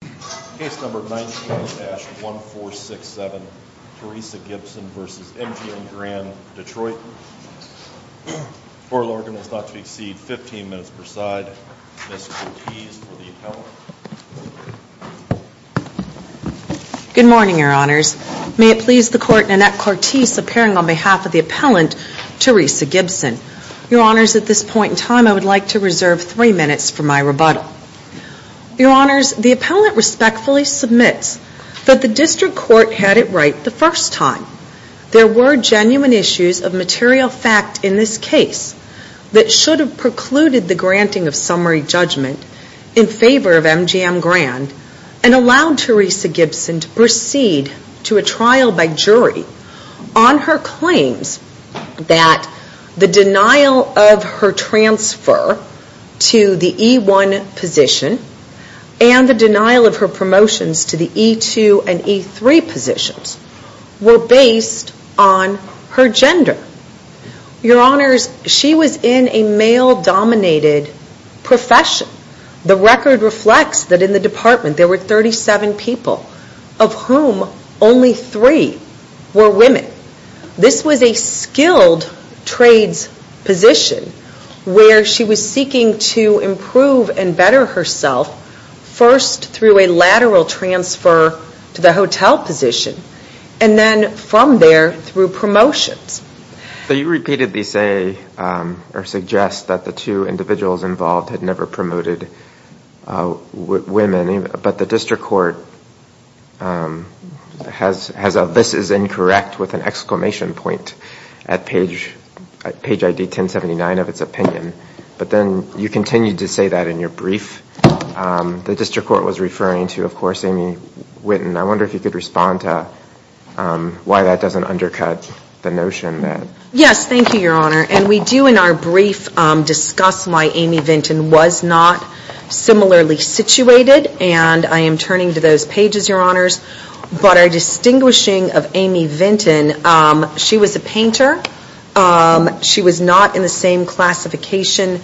Good morning, Your Honors. May it please the Court, Nanette Cortese appearing on behalf of the appellant, Teresa Gibson. Your Honors, at this point in time, I would like to reserve three minutes for my rebuttal. Your Honors, the appellant respectfully submits that the District Court had it right the first time. There were genuine issues of material fact in this case that should have precluded the granting of summary judgment in favor of MGM Grand and allowed Teresa Gibson to proceed to a trial by jury on her claims that the to the E1 position and the denial of her promotions to the E2 and E3 positions were based on her gender. Your Honors, she was in a male-dominated profession. The record reflects that in the department there were 37 people of whom only three were women. This was a skilled trades position where she was seeking to improve and better herself first through a lateral transfer to the hotel position and then from there through promotions. So you repeatedly say or suggest that the two individuals involved had never promoted women, but the District Court has a, this is incorrect, with an exclamation point at page ID 1079 of its opinion. But then you continue to say that in your brief. The District Court was referring to, of course, Amy Winton. I wonder if you could respond to why that doesn't undercut the notion that Yes, thank you, Your Honor. And we do in our brief discuss why Amy Winton was not similarly situated. And I am turning to those pages, Your Honors. But our distinguishing of Amy Winton, she was a painter. She was not in the same classification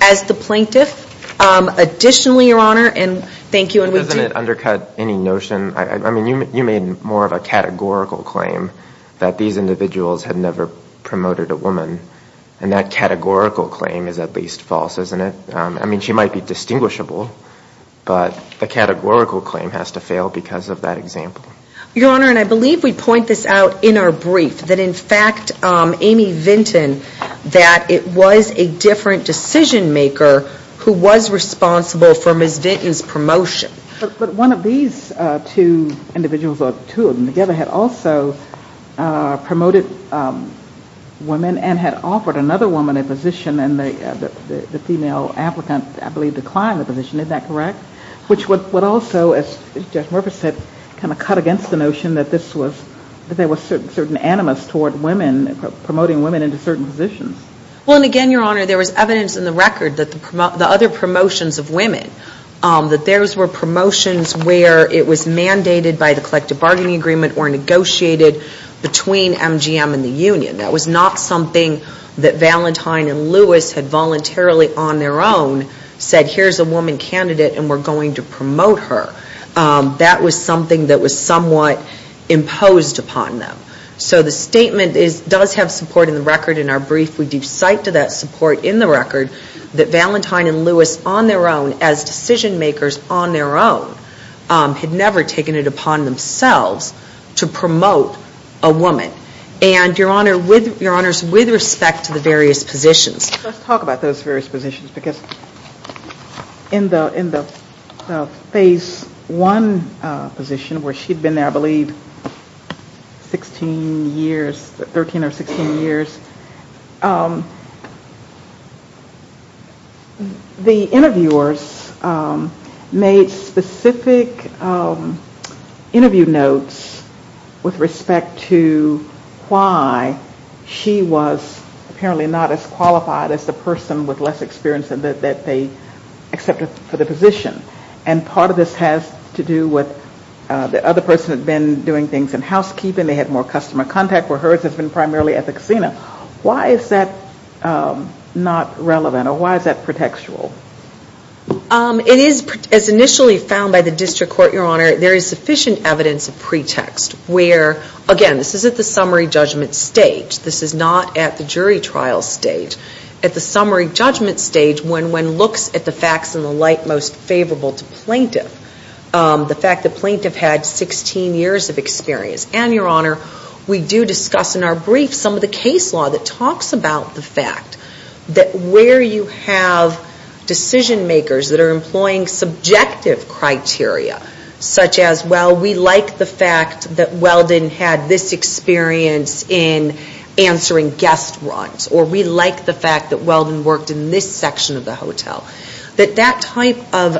as the plaintiff. Additionally, Your Honor, and thank you. Doesn't it undercut any notion? I mean, you made more of a categorical claim that these are false, isn't it? I mean, she might be distinguishable, but the categorical claim has to fail because of that example. Your Honor, and I believe we point this out in our brief, that in fact, Amy Winton, that it was a different decision maker who was responsible for Ms. Winton's promotion. But one of these two individuals, or two of them together, had also promoted women and had offered another woman a position and the female applicant, I believe, declined the position. Is that correct? Which would also, as Judge Murfis said, kind of cut against the notion that this was, that there were certain animus toward women, promoting women into certain positions. Well, and again, Your Honor, there was evidence in the record that the other promotions of women, that theirs were promotions where it was mandated by the collective bargaining agreement or negotiated between MGM and the union. That was not something that Valentine and Lewis had voluntarily, on their own, said, here's a woman candidate and we're going to promote her. That was something that was somewhat imposed upon them. So the statement does have support in the record. In our brief, we do cite to that support in the record that Valentine and Lewis, on their own, as decision makers on their own, had never taken it upon themselves to promote a woman. And, Your Honor, with, Your Honors, with respect to the various positions. Let's talk about those various positions, because in the, in the phase one position, where she'd been there, I believe, 16 years, 13 or 16 years, the interviewers made specific interview notes with respect to why she was apparently not as qualified as the person with less experience that they accepted for the position. And part of this has to do with the other person had been doing things in housekeeping. They had more customer contact where hers has been primarily at the casino. Why is that not relevant or why is that pretextual? It is, as initially found by the district court, Your Honor, there is sufficient evidence of pretext where, again, this is at the summary judgment stage. This is not at the jury trial stage. At the summary judgment stage, when one looks at the facts in the light most favorable to plaintiff, the fact that plaintiff had 16 years of experience. And, Your Honor, we do discuss in our brief some of the case law that talks about the fact that where you have decision makers that are employing subjective criteria, such as, well, we like the fact that Weldon had this experience in answering guest runs, or we like the fact that Weldon worked in this section of the hotel, that that type of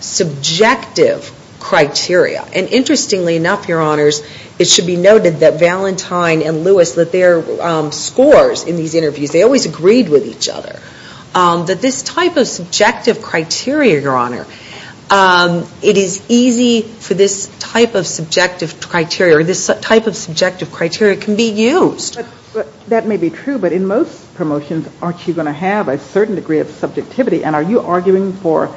subjective criteria, and interestingly enough, Your Honors, it should be noted that Valentine and Lewis, that their scores in each other, that this type of subjective criteria, Your Honor, it is easy for this type of subjective criteria or this type of subjective criteria can be used. That may be true, but in most promotions, aren't you going to have a certain degree of subjectivity? And are you arguing for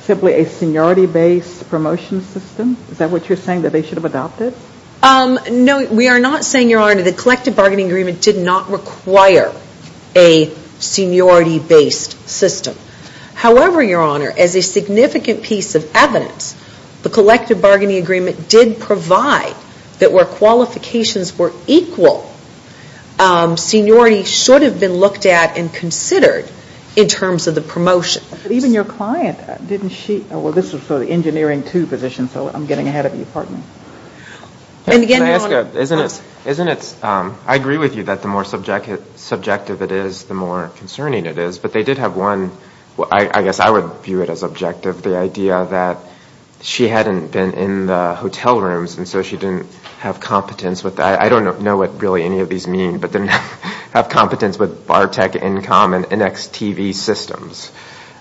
simply a seniority-based promotion system? Is that what you're saying, that they should have adopted? No, we are not saying, Your Honor, that the collective bargaining agreement did not require a seniority-based system. However, Your Honor, as a significant piece of evidence, the collective bargaining agreement did provide that where qualifications were equal, seniority should have been looked at and considered in terms of the promotion. But even your client, didn't she, well, this was for the engineering two position, so I'm getting ahead of you, pardon me. Can I ask a, isn't it, I agree with you that the more subjective it is, the more concerning it is, but they did have one, I guess I would view it as objective, the idea that she hadn't been in the hotel rooms, and so she didn't have competence with, I don't know what really any of these mean, but didn't have competence with Bartech, Incom, and NXTV systems.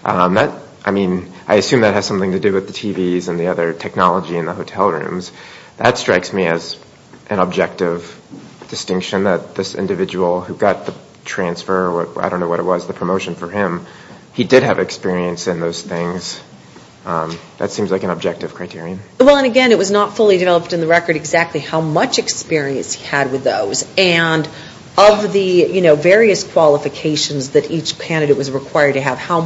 I mean, I assume that has something to do with the TVs and the other technology in the hotel rooms. That strikes me as an objective distinction, that this individual who got the transfer, I don't know what it was, the promotion for him, he did have experience in those things. That seems like an objective criterion. Well, and again, it was not fully developed in the record exactly how much experience he had with those, and of the various qualifications that each candidate was required to have, how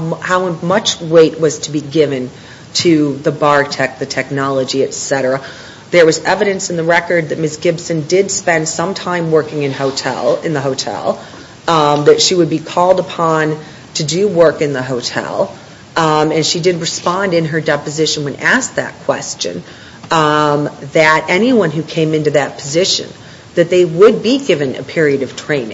much weight was to be given to the Bartech, the technology, et cetera. There was evidence in the record that Ms. Gibson did spend some time working in hotel, in the hotel, that she would be called upon to do work in the hotel, and she did respond in her deposition when asked that question, that anyone who came into that position, that they would be called upon to work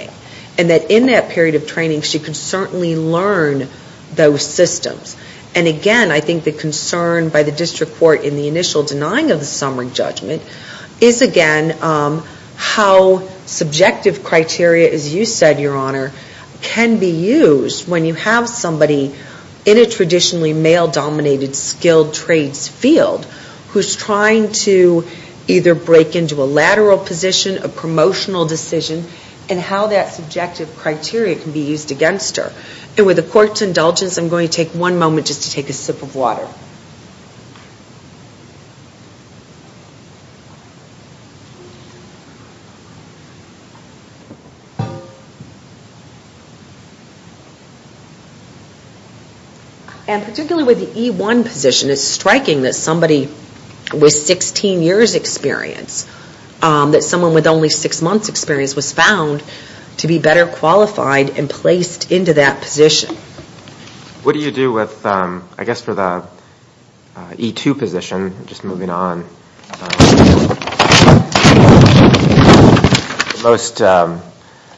in those systems. And again, I think the concern by the District Court in the initial denying of the summary judgment, is again, how subjective criteria, as you said, Your Honor, can be used when you have somebody in a traditionally male dominated skilled trades field, who's trying to either break into a lateral position, a promotional decision, and how that subjective criteria can be used against her. And with the Court's indulgence, I'm going to take one moment just to take a sip of water. And particularly with the E1 position, it's striking that somebody with 16 years' experience, that someone with only 6 months' experience was found to be better qualified and placed into that position. What do you do with, I guess for the E2 position, just moving on,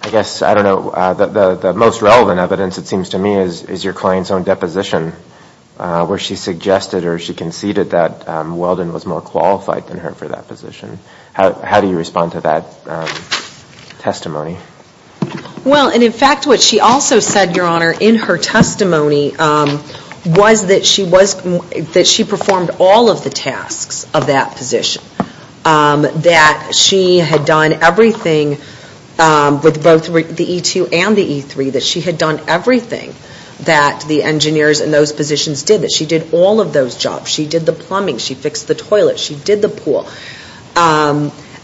I guess, I don't know, the most relevant evidence it seems to me is your client's own deposition, where she suggested or she conceded that Weldon was more qualified than her for that position. How do you respond to that testimony? Well, and in fact, what she also said, Your Honor, in her testimony was that she was, that she performed all of the tasks of that position. That she had done everything with both the E2 and the E3, that she had done everything that the engineers in those positions did, that she did all of those jobs. She did the plumbing, she fixed the toilets, she did the pool.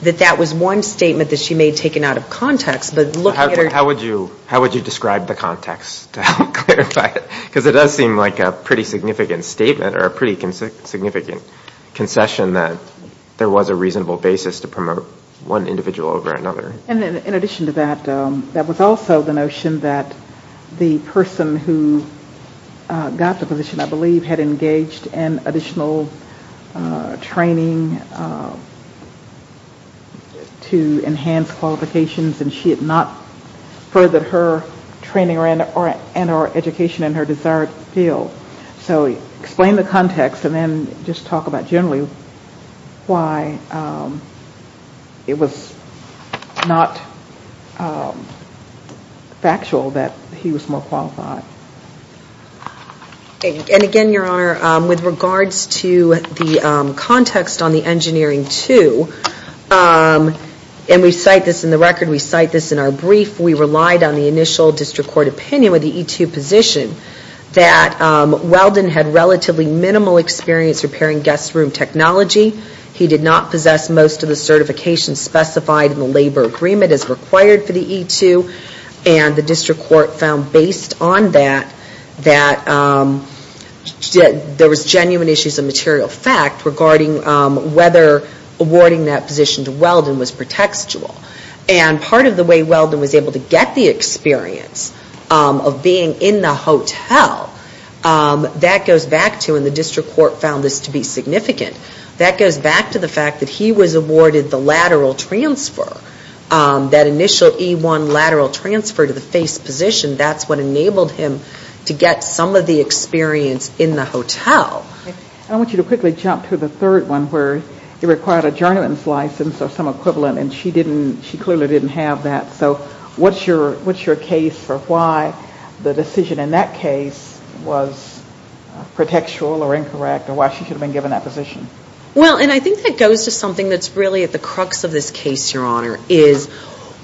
That that was one statement that she made taken out of context, but looking at her... How would you describe the context to help clarify it? Because it does seem like a pretty significant statement or a pretty significant concession that there was a reasonable basis to promote one individual over another. In addition to that, that was also the notion that the person who got the position, I believe, had engaged in additional training to enhance qualifications and she had not furthered her training or education in her desired field. So explain the context and then just talk about generally why it was not factual that he was more qualified. And again, Your Honor, with regards to the context on the Engineering 2, and we cite this in the record, we cite this in our brief, we relied on the initial district court opinion with the E2 position that Weldon had relatively minimal experience repairing guest room technology. He did not possess most of the certifications specified in the labor agreement as required for the E2, and the district court found based on that that there was genuine issues of material fact regarding whether awarding that position to Weldon was pretextual. And part of the way Weldon was able to get the experience of being in the hotel, that goes back to, and the district court found this to be significant, that goes back to the fact that he was awarded the lateral transfer, that initial E1 lateral transfer to the face position, that's what enabled him to get some of the experience in the hotel. I want you to quickly jump to the third one where it required a journeyman's license or some equivalent and she clearly didn't have that. So what's your case for why the decision in that case was pretextual or incorrect or why she should have been given that position? Well, and I think that goes to something that's really at the crux of this case, Your Honor, is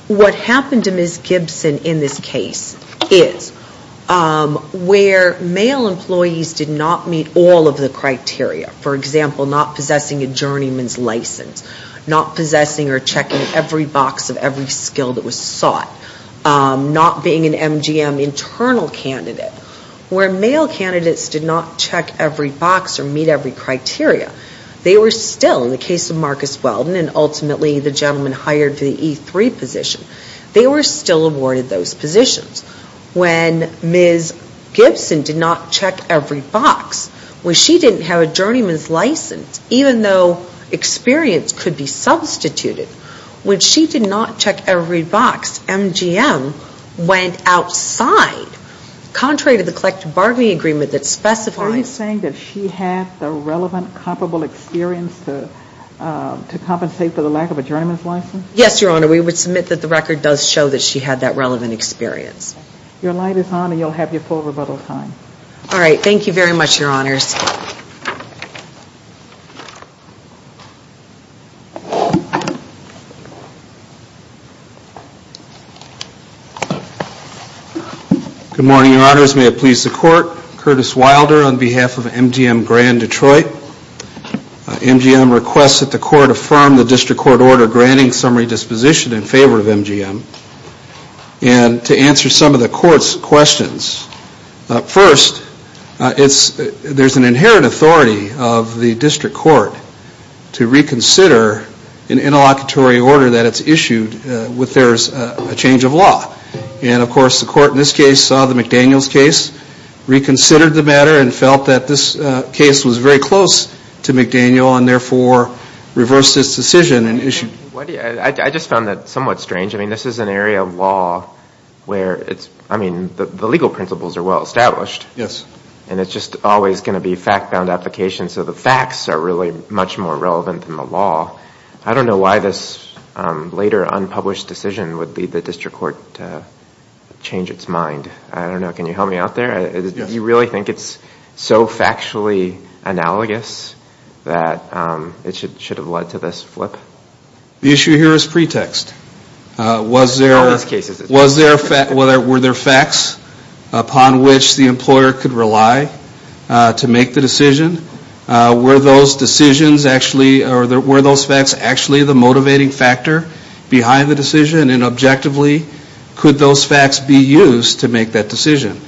what happened to Ms. Gibson in this case is where male employees did not meet all of the criteria, for example, not possessing a journeyman's license, not possessing or checking every box of every skill that was sought, not being an MGM internal candidate, where male candidates did not check every box or meet every criteria. They were still, in the case of Marcus Weldon and ultimately the gentleman hired to the E3 position, they were still awarded those positions. When Ms. Gibson did not check every box, when she didn't have a journeyman's license, even though experience could be substituted, when she did not check every box, MGM went outside. Contrary to the collective bargaining agreement that specifies... Are you saying that she had the relevant comparable experience to compensate for the lack of a journeyman's license? Yes, Your Honor. We would submit that the record does show that she had that relevant experience. Your light is on and you'll have your full rebuttal time. All right. Thank you very much, Your Honors. Good morning, Your Honors. May it please the Court. Curtis Wilder on behalf of MGM Grand Detroit. MGM requests that the Court affirm the District Court order granting summary disposition in favor of MGM. And to answer some of the Court's questions. First, there's an inherent authority of the District Court to reconsider an interlocutory order that there's a change of law. And of course, the Court in this case saw the McDaniel's case, reconsidered the matter and felt that this case was very close to McDaniel and therefore reversed its decision and issued... I just found that somewhat strange. I mean, this is an area of law where it's... I mean, the legal principles are well established. Yes. And it's just always going to be fact-bound application. So the facts are really much more relevant than the law. I don't know why this later unpublished decision would lead the District Court to change its mind. I don't know. Can you help me out there? Yes. Do you really think it's so factually analogous that it should have led to this flip? The issue here is pretext. In this case, it's... Was there... Were there facts upon which the employer could rely to make the decision? Were those decisions actually... Or were those facts actually the motivating factor behind the decision? And objectively, could those facts be used to make that decision?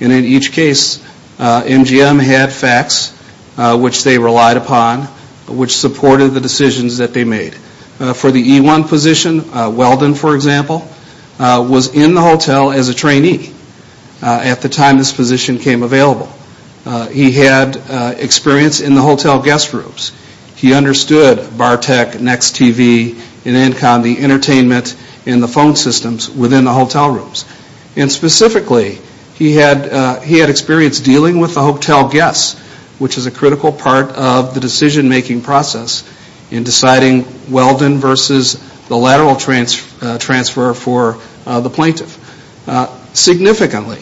And in each case, MGM had facts which they relied upon, which supported the decisions that they made. For the E-1 position, Weldon, for example, was in the hotel as a trainee at the time this position came available. He had experience in the hotel guest rooms. He understood Bartek, Next TV, and ENCOM, the entertainment and the phone systems within the hotel rooms. And specifically, he had experience dealing with the hotel guests, which is a critical part of the decision-making process in deciding Weldon versus the lateral transfer for the plaintiff. Significantly,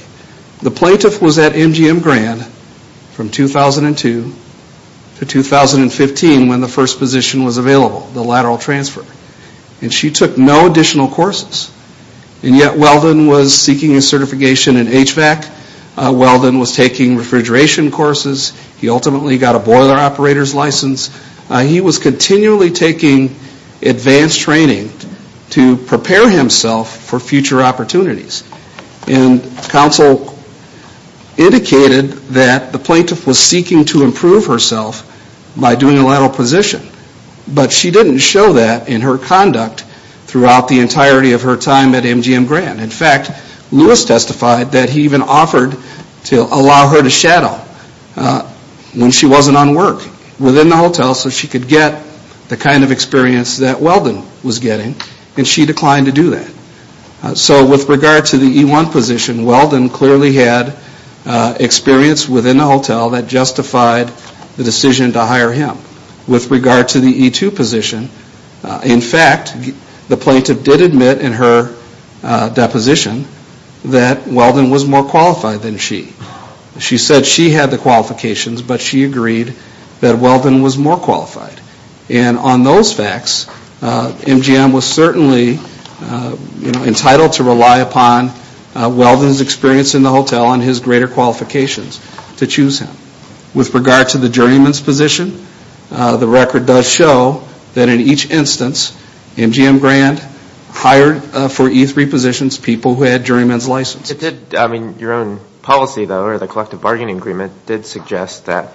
the plaintiff was at MGM Grand from 2002 to 2015 when the first position was available, the lateral transfer. And she took no additional courses. And yet, Weldon was seeking a certification in HVAC. Weldon was taking refrigeration courses. He ultimately got a boiler operator's license. He was continually taking advanced training to prepare himself for future opportunities. And counsel indicated that the plaintiff was seeking to improve herself by doing a lateral position. But she didn't show that in her conduct throughout the entirety of her time at MGM Grand. In fact, Lewis testified that he even offered to allow her to shadow when she wasn't on the hotel so she could get the kind of experience that Weldon was getting, and she declined to do that. So with regard to the E1 position, Weldon clearly had experience within the hotel that justified the decision to hire him. With regard to the E2 position, in fact, the plaintiff did admit in her deposition that Weldon was more qualified than she. She said she had the qualifications, but she agreed that Weldon was more qualified. And on those facts, MGM was certainly entitled to rely upon Weldon's experience in the hotel and his greater qualifications to choose him. With regard to the juryman's position, the record does show that in each instance, MGM Grand hired for E3 positions people who had juryman's licenses. Your own policy, though, or the collective bargaining agreement did suggest that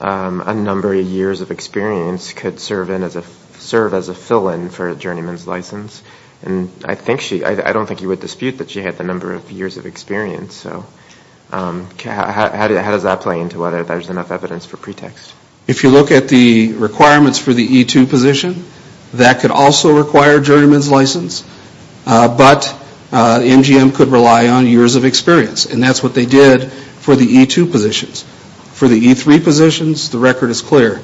a number of years of experience could serve as a fill-in for a juryman's license, and I don't think you would dispute that she had the number of years of experience, so how does that play into whether there's enough evidence for pretext? If you look at the requirements for the E2 position, that could also require juryman's license, but MGM could rely on years of experience, and that's what they did for the E2 positions. For the E3 positions, the record is clear.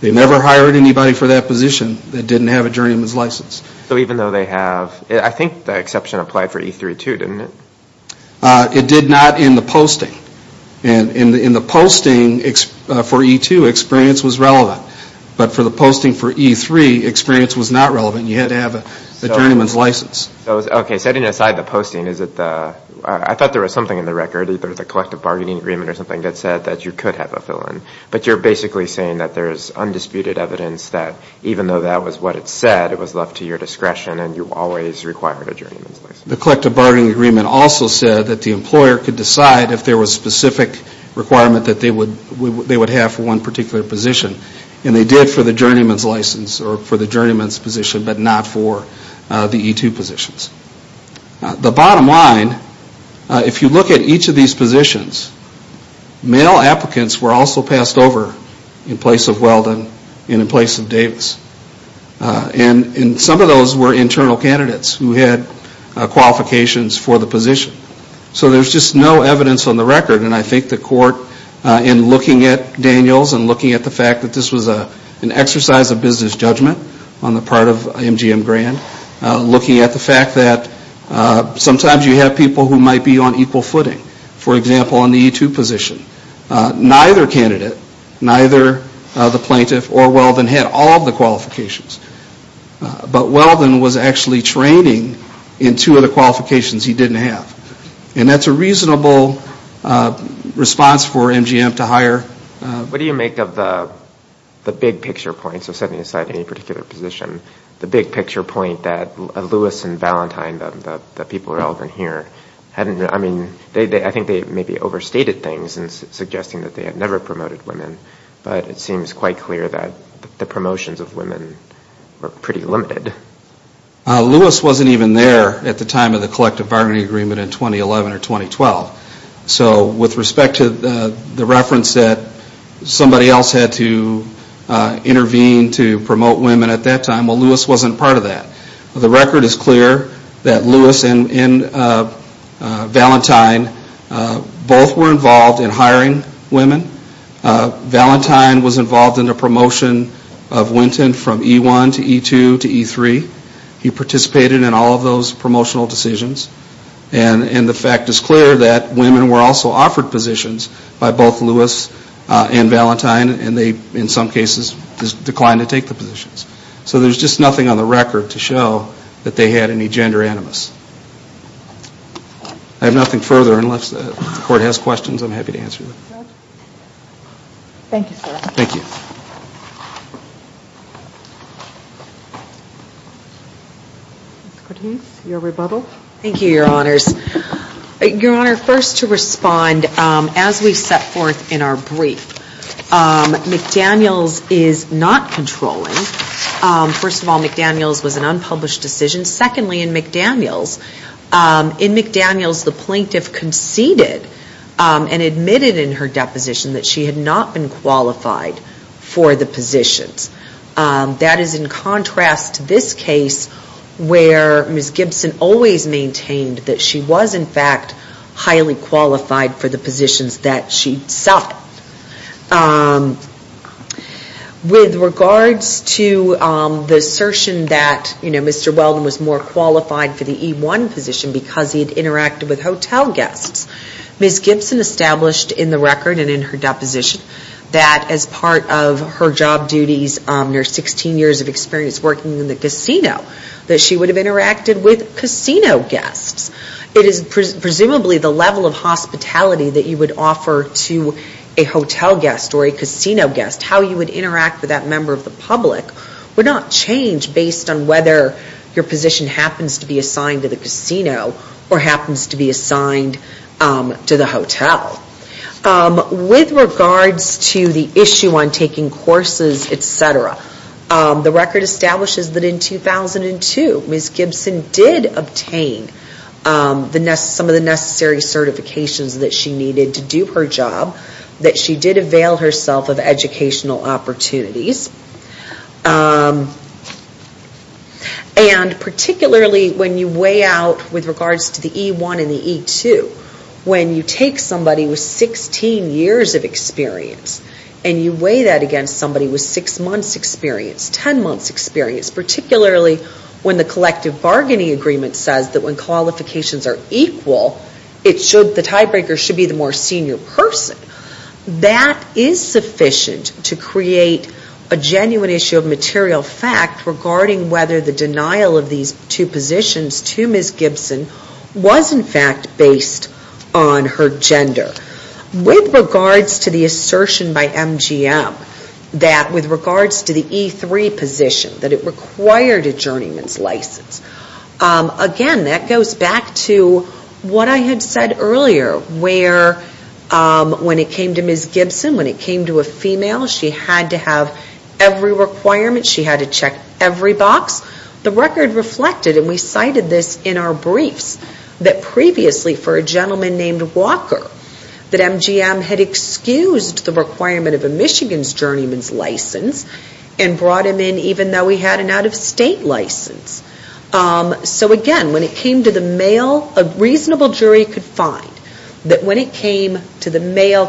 They never hired anybody for that position that didn't have a juryman's license. So even though they have, I think the exception applied for E3, too, didn't it? It did not in the posting. In the posting for E2, experience was relevant, but for the posting for E3, experience was not relevant. You had to have a juryman's license. So, okay, setting aside the posting, is it the, I thought there was something in the record, either the collective bargaining agreement or something that said that you could have a fill-in, but you're basically saying that there is undisputed evidence that even though that was what it said, it was left to your discretion and you always required a juryman's license. The collective bargaining agreement also said that the employer could decide if there was specific requirement that they would have for one particular position, and they did for the juryman's license or for the juryman's position, but not for the E2 positions. The bottom line, if you look at each of these positions, male applicants were also passed over in place of Weldon and in place of Davis. And some of those were internal candidates who had qualifications for the position. So there's just no evidence on the record, and I think the court, in looking at Daniel's and looking at the fact that this was an exercise of business judgment on the part of MGM Grand, looking at the fact that sometimes you have people who might be on equal footing. For example, on the E2 position, neither candidate, neither the plaintiff or Weldon had all of the qualifications. But Weldon was actually training in two of the qualifications he didn't have. And that's a reasonable response for MGM to hire. What do you make of the big picture point, so setting aside any particular position, the big picture point that Lewis and Valentine, the people relevant here, hadn't, I mean, I think they maybe overstated things in suggesting that they had never promoted women, but it seems quite clear that the promotions of women were pretty limited. Lewis wasn't even there at the time of the collective bargaining agreement in 2011 or 2012. So with respect to the reference that somebody else had to intervene to promote women at that time, well, Lewis wasn't part of that. The record is clear that Lewis and Valentine both were involved in hiring women. Valentine was involved in the promotion of Winton from E1 to E2 to E3. He participated in all of those promotional decisions. And the fact is clear that women were also offered positions by both Lewis and Valentine and they, in some cases, declined to take the positions. So there's just nothing on the record to show that they had any gender animus. I have nothing further unless the Court has questions, I'm happy to answer them. Thank you, sir. Thank you. Ms. Cortese, your rebuttal. Thank you. Thank you, Your Honors. Your Honor, first to respond, as we've set forth in our brief, McDaniels is not controlling. First of all, McDaniels was an unpublished decision. Secondly, in McDaniels, the plaintiff conceded and admitted in her deposition that she had not been qualified for the positions. That is in contrast to this case where Ms. Gibson always maintained that she was in fact highly qualified for the positions that she suffered. With regards to the assertion that Mr. Weldon was more qualified for the E1 position because he had interacted with hotel guests, Ms. Gibson established in the record and in her deposition that as part of her job duties, near 16 years of experience working in the casino, that she would have interacted with casino guests. It is presumably the level of hospitality that you would offer to a hotel guest or a casino guest. How you would interact with that member of the public would not change based on whether your position happens to be assigned to the casino or happens to be assigned to the hotel. With regards to the issue on taking courses, etc., the record establishes that in 2002, Ms. Gibson did obtain some of the necessary certifications that she needed to do her job, that she did avail herself of educational opportunities. And particularly when you weigh out with regards to the E1 and the E2, when you take somebody with 16 years of experience and you weigh that against somebody with six months' experience, ten months' experience, particularly when the collective bargaining agreement says that when qualifications are equal, the tiebreaker should be the more senior person, that is sufficient to create a genuine issue of material fact regarding whether the denial of these two positions to Ms. Gibson was in fact based on her gender. With regards to the assertion by MGM that with regards to the E3 position, that it required a journeyman's license, again, that goes back to what I had said earlier, where when it came to Ms. Gibson, when it came to a female, she had to have every requirement, she had to check every box, the record reflected, and we cited this in our briefs, that previously for a gentleman named Walker, that MGM had excused the requirement of a Michigan's journeyman's license and brought him in even though he had an out-of-state license. So again, when it came to the male, a reasonable jury could find that when it came to the male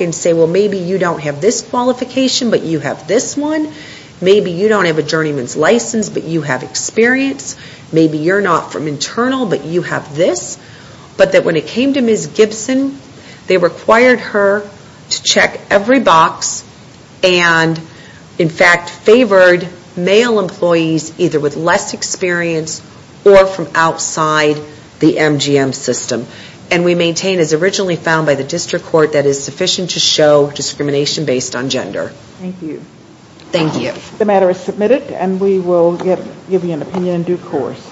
and say, well, maybe you don't have this qualification, but you have this one. Maybe you don't have a journeyman's license, but you have experience. Maybe you're not from internal, but you have this. But that when it came to Ms. Gibson, they required her to check every box and in fact favored male employees either with less experience or from outside the MGM system. And we maintain, as originally found by the district court, that it is sufficient to show discrimination based on gender. Thank you. Thank you. The matter is submitted and we will give you an opinion in due course.